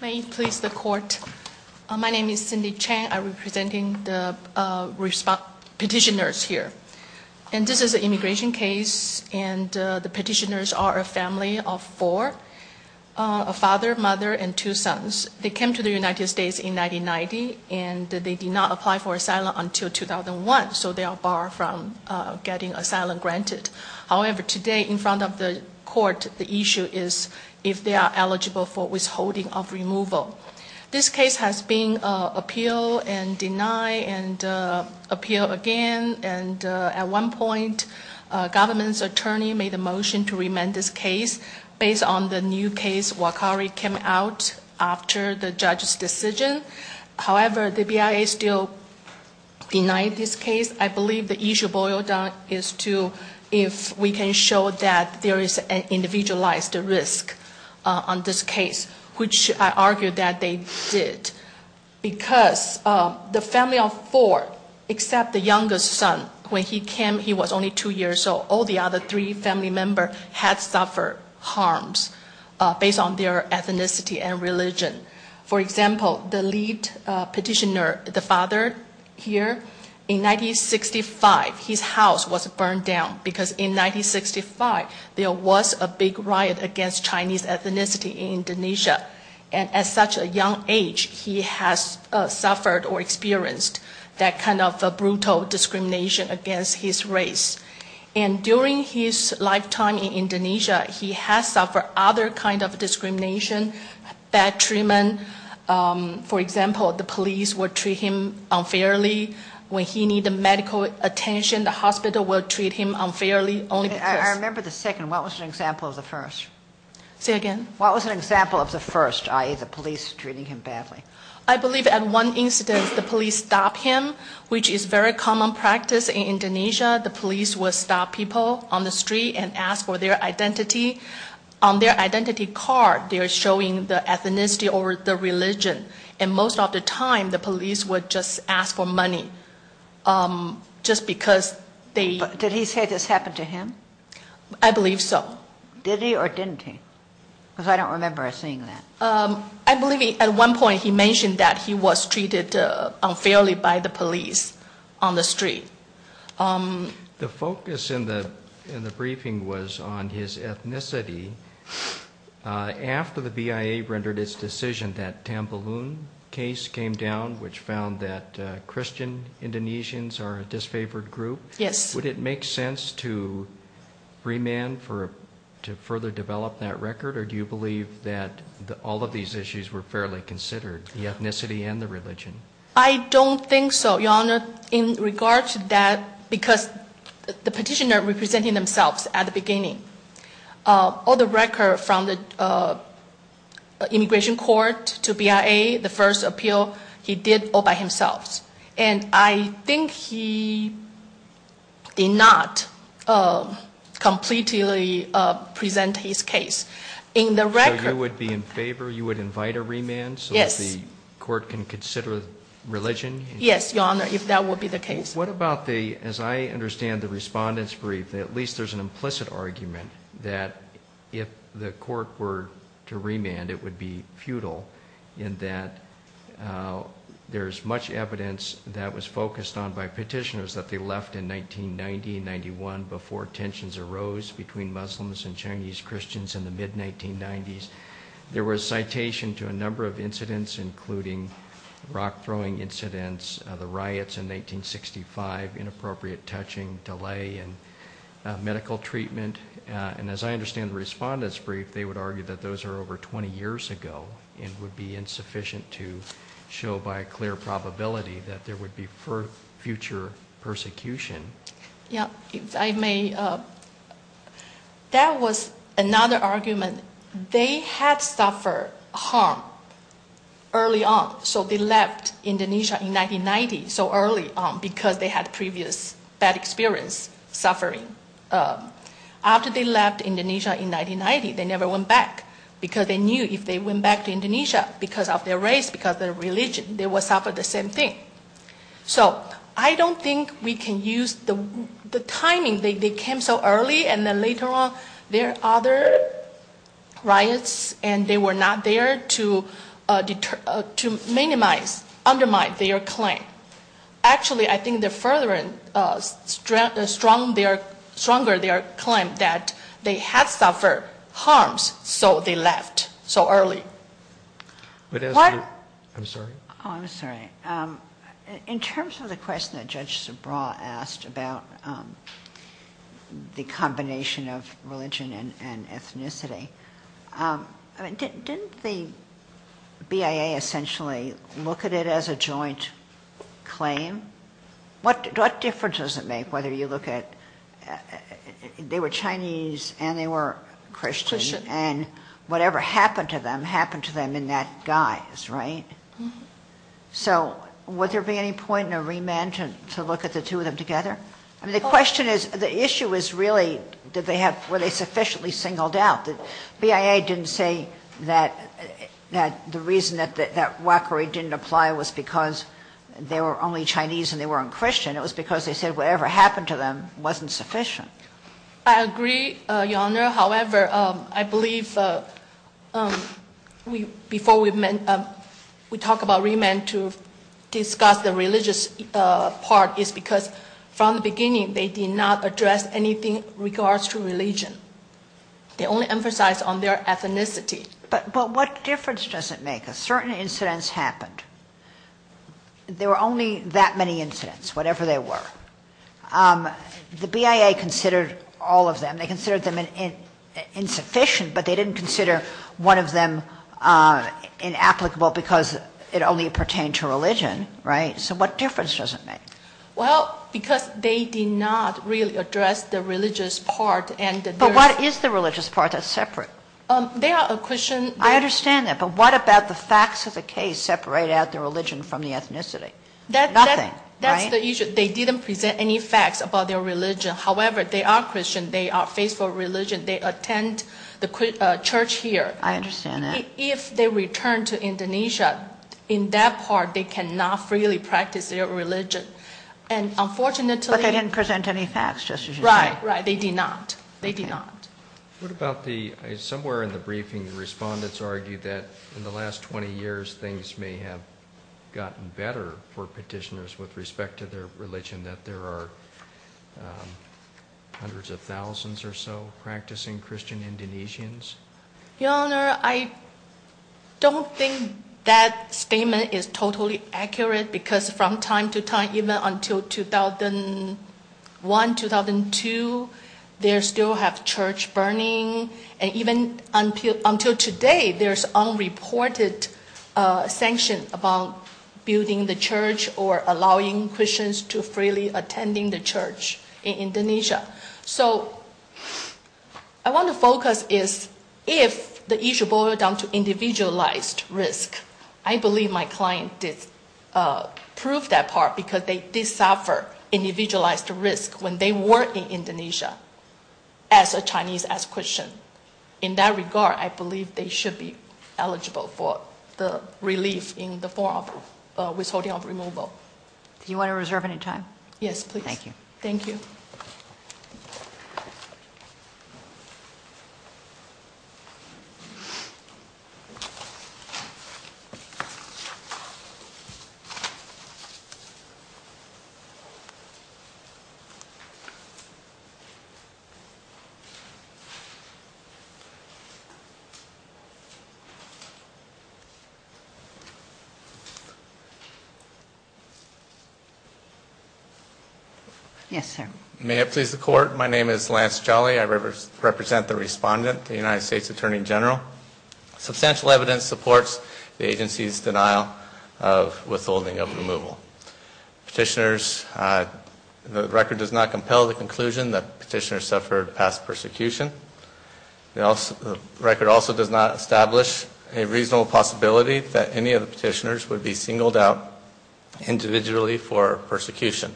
May it please the court. My name is Cindy Chang. I'm representing the petitioners here. And this is an immigration case, and the petitioners are a family of four. A father, mother, and two sons. They came to the United States in 1990, and they did not apply for asylum until 2001, so they are barred from getting asylum granted. However, today, in front of the court, the issue is if they are eligible for withholding of removal. This case has been appealed and denied and appealed again, and at one point, a government attorney made a motion to remand this case based on the new case Wakari came out after the judge's decision. However, the BIA still denied this case. I believe the issue boiled down to if we can show that there is an individualized risk on this case, which I argue that they did, because the family of four, except the youngest son, when he came, he was only two years old. All the other three family members had suffered harms based on their ethnicity and religion. For example, the lead petitioner, the father here, in 1965, his house was burned down, because in 1965, there was a big riot against Chinese ethnicity in Indonesia. And at such a young age, he has suffered or experienced that kind of brutal discrimination against his race. And during his lifetime in Indonesia, he has suffered other kinds of discrimination, bad treatment. For example, the police would treat him unfairly when he needed medical attention. The hospital would treat him unfairly only because- I remember the second. What was an example of the first? Say again? What was an example of the first, i.e., the police treating him badly? I believe at one instance, the police stopped him, which is very common practice in Indonesia. The police will stop people on the street and ask for their identity. On their identity card, they are showing their ethnicity or their religion. And most of the time, the police would just ask for money just because they- Did he say this happened to him? I believe so. Did he or didn't he? Because I don't remember seeing that. I believe at one point, he mentioned that he was treated unfairly by the police on the street. The focus in the briefing was on his ethnicity. After the BIA rendered its decision, that Tambalun case came down, which found that Christian Indonesians are a disfavored group. Yes. Would it make sense to remand, to further develop that record? Or do you believe that all of these issues were fairly considered, the ethnicity and the religion? I don't think so, Your Honor. In regard to that, because the petitioner represented themselves at the beginning, all the record from the immigration court to BIA, the first appeal, he did all by himself. And I think he did not completely present his case. In the record- So you would be in favor, you would invite a remand- Yes. So the court can consider religion? Yes, Your Honor, if that would be the case. What about the, as I understand the respondent's brief, at least there's an implicit argument that if the court were to remand, it would be futile in that there's much evidence that was focused on by petitioners that they left in 1990-91 before tensions arose between Muslims and Chinese Christians in the mid-1990s. There was citation to a number of incidents, including rock-throwing incidents, the riots in 1965, inappropriate touching, delay in medical treatment. And as I understand the respondent's brief, they would argue that those are over 20 years ago and would be insufficient to show by a clear probability that there would be future persecution. Yeah, if I may, that was another argument. They had suffered harm early on, so they left Indonesia in 1990, so early on because they had previous bad experience, suffering. After they left Indonesia in 1990, they never went back because they knew if they went back to Indonesia because of their race, because of their religion, they would suffer the same thing. So I don't think we can use the timing. They came so early, and then later on there are other riots, and they were not there to minimize, undermine their claim. Actually, I think they're further and stronger their claim that they had suffered harms, so they left so early. I'm sorry? Oh, I'm sorry. In terms of the question that Judge Subraw asked about the combination of religion and ethnicity, didn't the BIA essentially look at it as a joint claim? What difference does it make whether you look at they were Chinese and they were Christians, and whatever happened to them happened to them in that guise, right? So would there be any point in a remand to look at the two of them together? I mean, the question is, the issue is really, were they sufficiently singled out? The BIA didn't say that the reason that that waqari didn't apply was because they were only Chinese and they weren't Christian. It was because they said whatever happened to them wasn't sufficient. I agree, Your Honor. However, I believe before we talk about remand to discuss the religious part is because from the beginning they did not address anything in regards to religion. They only emphasized on their ethnicity. But what difference does it make? Certain incidents happened. There were only that many incidents, whatever they were. The BIA considered all of them. They considered them insufficient, but they didn't consider one of them inapplicable because it only pertained to religion, right? So what difference does it make? Well, because they did not really address the religious part. But what is the religious part? That's separate. I understand that, but what about the facts of the case separate out the religion from the ethnicity? Nothing, right? That's the issue. They didn't present any facts about their religion. However, they are Christian. They are faithful religion. They attend the church here. I understand that. If they return to Indonesia, in that part they cannot freely practice their religion. But they didn't present any facts, just as you said. Right, right. They did not. They did not. Somewhere in the briefing the respondents argued that in the last 20 years things may have gotten better for petitioners with respect to their religion, that there are hundreds of thousands or so practicing Christian Indonesians. Your Honor, I don't think that statement is totally accurate because from time to time, even until 2001, 2002, they still have church burning. And even until today there's unreported sanction about building the church or allowing Christians to freely attend the church in Indonesia. So I want to focus is if the issue boils down to individualized risk, I believe my client did prove that part because they did suffer individualized risk when they were in Indonesia as a Chinese as Christian. In that regard, I believe they should be eligible for the relief in the form of withholding of removal. Do you want to reserve any time? Yes, please. Thank you. Thank you. Yes, sir. May it please the court. My name is Lance Jolly. I represent the respondent, the United States Attorney General. Substantial evidence supports the agency's denial of withholding of removal. Petitioners, the record does not compel the conclusion that petitioners suffered past persecution. The record also does not establish a reasonable possibility that any of the petitioners would be singled out individually for persecution.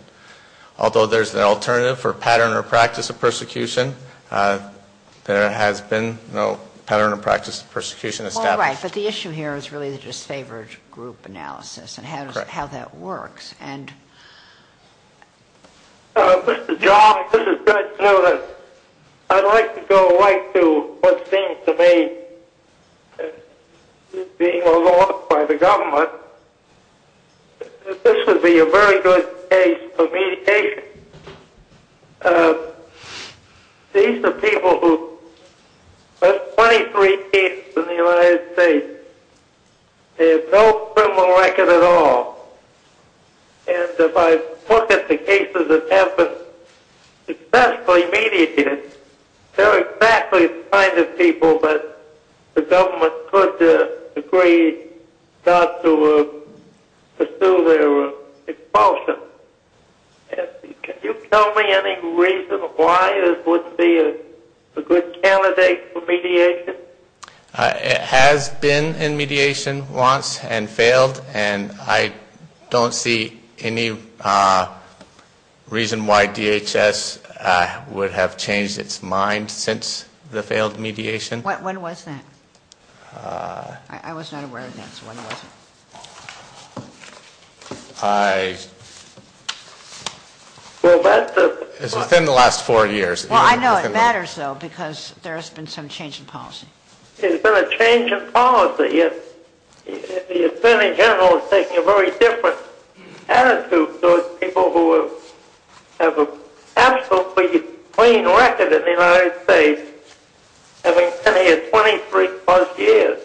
Although there's an alternative for pattern or practice of persecution, there has been no pattern or practice of persecution established. All right. But the issue here is really the disfavored group analysis and how that works. Correct. Mr. Jolly, this is Judge Newman. I'd like to go right to what seems to me being a law by the government. This would be a very good case for mediation. These are people who have 23 cases in the United States. They have no criminal record at all. And if I look at the cases that have been successfully mediated, they're exactly the kind of people that the government could agree not to pursue their expulsion. Can you tell me any reason why this would be a good candidate for mediation? It has been in mediation once and failed. And I don't see any reason why DHS would have changed its mind since the failed mediation. When was that? I was not aware of that, so when was it? It was within the last four years. Well, I know it matters, though, because there has been some change in policy. The attorney general is taking a very different attitude towards people who have an absolutely clean record in the United States, having been here 23-plus years.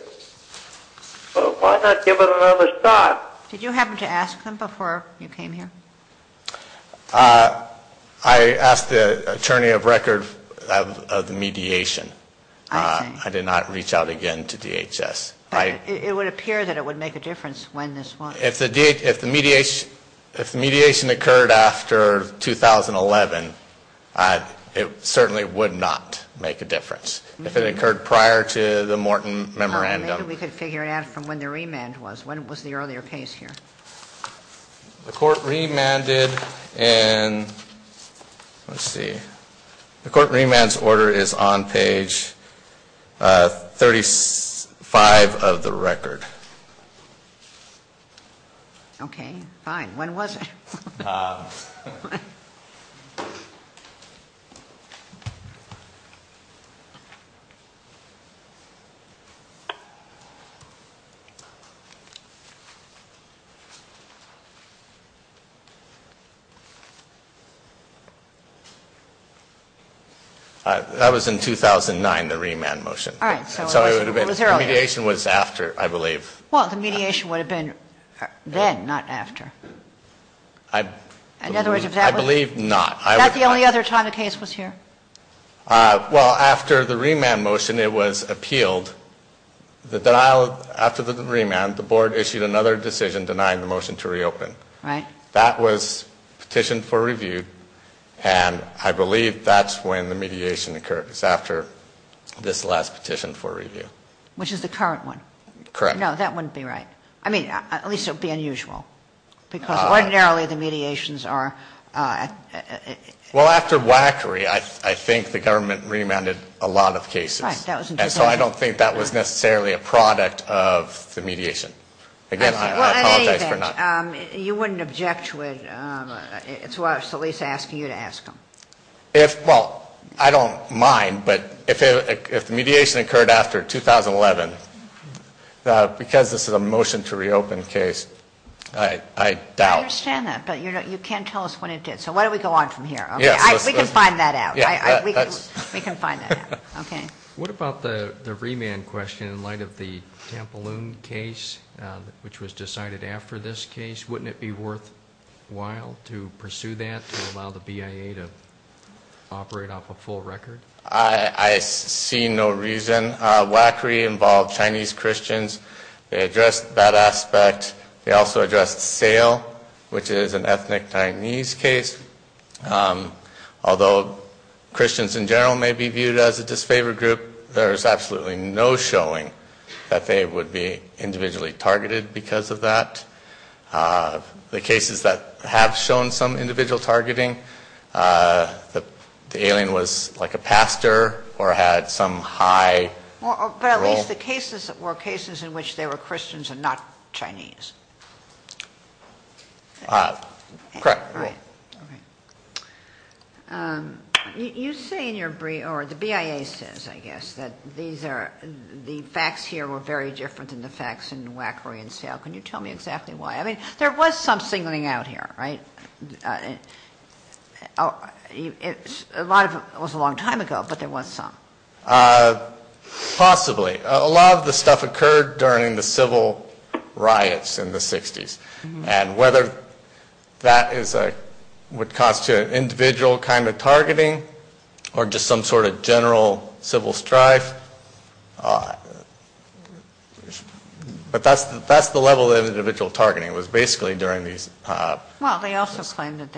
So why not give it another shot? Did you happen to ask them before you came here? I asked the attorney of record of the mediation. I see. I would not reach out again to DHS. It would appear that it would make a difference when this was. If the mediation occurred after 2011, it certainly would not make a difference. If it occurred prior to the Morton memorandum. Maybe we could figure it out from when the remand was. When was the earlier case here? The court remanded in, let's see. The court remand's order is on page 35 of the record. Okay, fine. When was it? That was in 2009, the remand motion. All right. So it was earlier. Mediation was after, I believe. Well, the mediation would have been then, not after. I believe not. Is that the only other time the case was here? Well, after the remand motion, it was appealed. After the remand, the board issued another decision denying the motion to reopen. Right. That was petitioned for review, and I believe that's when the mediation occurred. It was after this last petition for review. Which is the current one. Correct. No, that wouldn't be right. I mean, at least it would be unusual, because ordinarily the mediations are. Well, after WACRI, I think the government remanded a lot of cases. Right. And so I don't think that was necessarily a product of the mediation. Again, I apologize for not. Well, in any event, you wouldn't object to it. It's why I was at least asking you to ask them. Well, I don't mind, but if the mediation occurred after 2011, because this is a motion to reopen case, I doubt. I understand that, but you can't tell us when it did. So why don't we go on from here? We can find that out. We can find that out. Okay. What about the remand question in light of the Tampaloon case, which was decided after this case? Wouldn't it be worthwhile to pursue that, to allow the BIA to operate off a full record? I see no reason. WACRI involved Chinese Christians. They addressed that aspect. They also addressed SAIL, which is an ethnic Chinese case. Although Christians in general may be viewed as a disfavored group, there's absolutely no showing that they would be individually targeted because of that. The cases that have shown some individual targeting, the alien was like a pastor or had some high role. But at least the cases were cases in which they were Christians and not Chinese. Correct. You say in your brief, or the BIA says, I guess, that the facts here were very different than the facts in WACRI and SAIL. Can you tell me exactly why? I mean, there was some singling out here, right? It was a long time ago, but there was some. Possibly. A lot of the stuff occurred during the civil riots in the 60s. And whether that is what constitutes an individual kind of targeting or just some sort of general civil strife. But that's the level of individual targeting. It was basically during these. Well, they also claimed that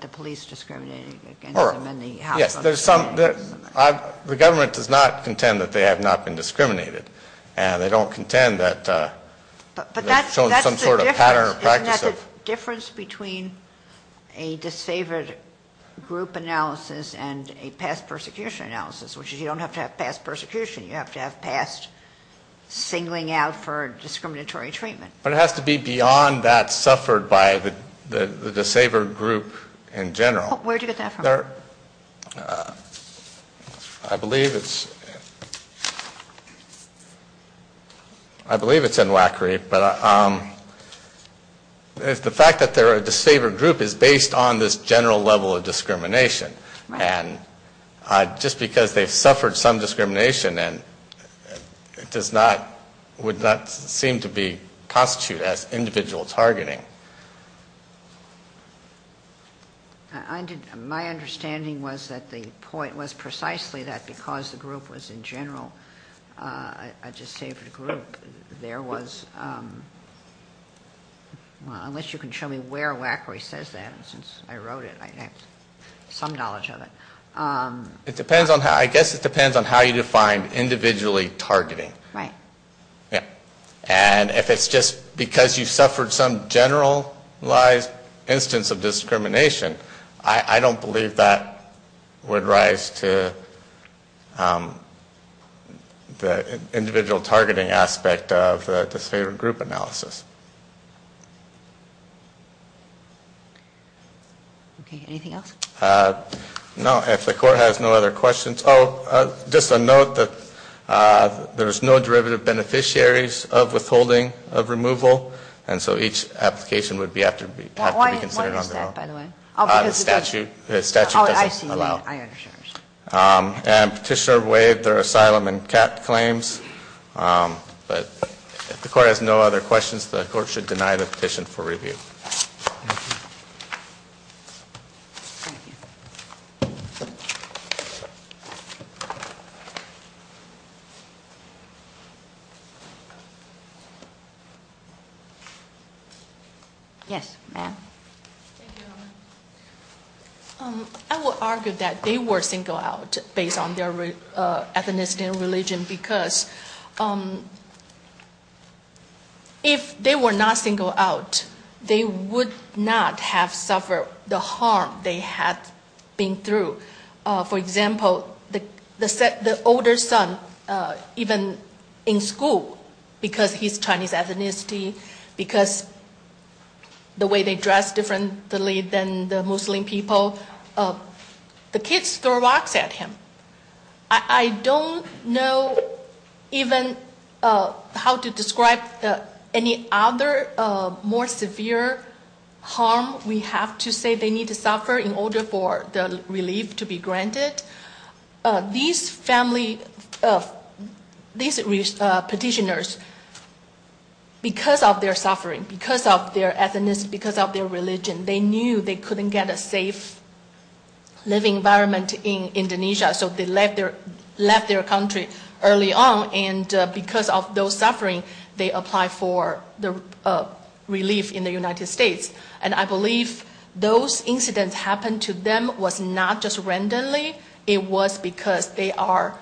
the police discriminated against them. Yes. The government does not contend that they have not been discriminated. And they don't contend that they have shown some sort of pattern or practice. But isn't that the difference between a disfavored group analysis and a past persecution analysis? Which is you don't have to have past persecution. You have to have past singling out for discriminatory treatment. But it has to be beyond that suffered by the disfavored group in general. Where did you get that from? Let me start. I believe it's in WACRI, but the fact that they're a disfavored group is based on this general level of discrimination. And just because they've suffered some discrimination, it would not seem to constitute as individual targeting. My understanding was that the point was precisely that because the group was in general a disfavored group, there was, unless you can show me where WACRI says that, since I wrote it, I have some knowledge of it. It depends on how, I guess it depends on how you define individually targeting. Right. Yeah. And if it's just because you suffered some generalized instance of discrimination, I don't believe that would rise to the individual targeting aspect of the disfavored group analysis. Okay, anything else? No, if the court has no other questions. Just a note that there's no derivative beneficiaries of withholding of removal, and so each application would have to be considered on their own. Why is that, by the way? The statute doesn't allow. Oh, I see. I understand. And Petitioner waived their asylum and CAT claims. But if the court has no other questions, the court should deny the petition for review. Thank you. Thank you. Thank you. Yes, ma'am. I will argue that they were singled out based on their ethnicity and religion, because if they were not singled out, they would not have suffered the harm they had been through. For example, the older son, even in school, because he's Chinese ethnicity, because the way they dress differently than the Muslim people, the kids throw rocks at him. I don't know even how to describe any other more severe harm we have to say they need to suffer in order for the relief to be granted. These petitioners, because of their suffering, because of their ethnicity, because of their religion, they knew they couldn't get a safe living environment in Indonesia, so they left their country early on, and because of those suffering, they applied for relief in the United States. And I believe those incidents happened to them was not just randomly. It was because they are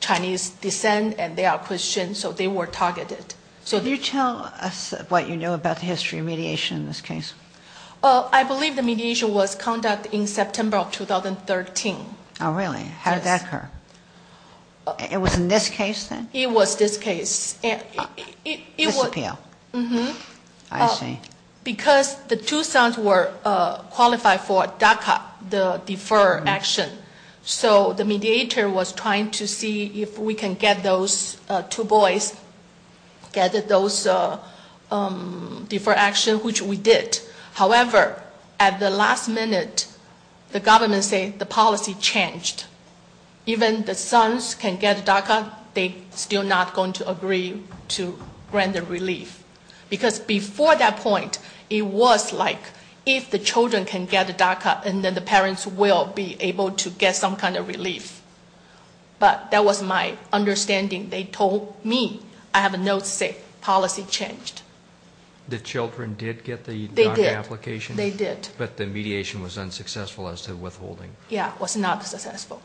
Chinese descent and they are Christians, so they were targeted. Can you tell us what you know about the history of mediation in this case? I believe the mediation was conducted in September of 2013. Oh, really? How did that occur? It was in this case, then? It was this case. This appeal? I see. Because the two sons were qualified for DACA, the deferred action, so the mediator was trying to see if we can get those two boys, get those deferred actions, which we did. However, at the last minute, the government said the policy changed. Even the sons can get DACA, they're still not going to agree to grant the relief. Because before that point, it was like if the children can get DACA, then the parents will be able to get some kind of relief. But that was my understanding. They told me I have no say. Policy changed. The children did get the DACA application? They did. But the mediation was unsuccessful as to withholding. Yeah, it was not successful.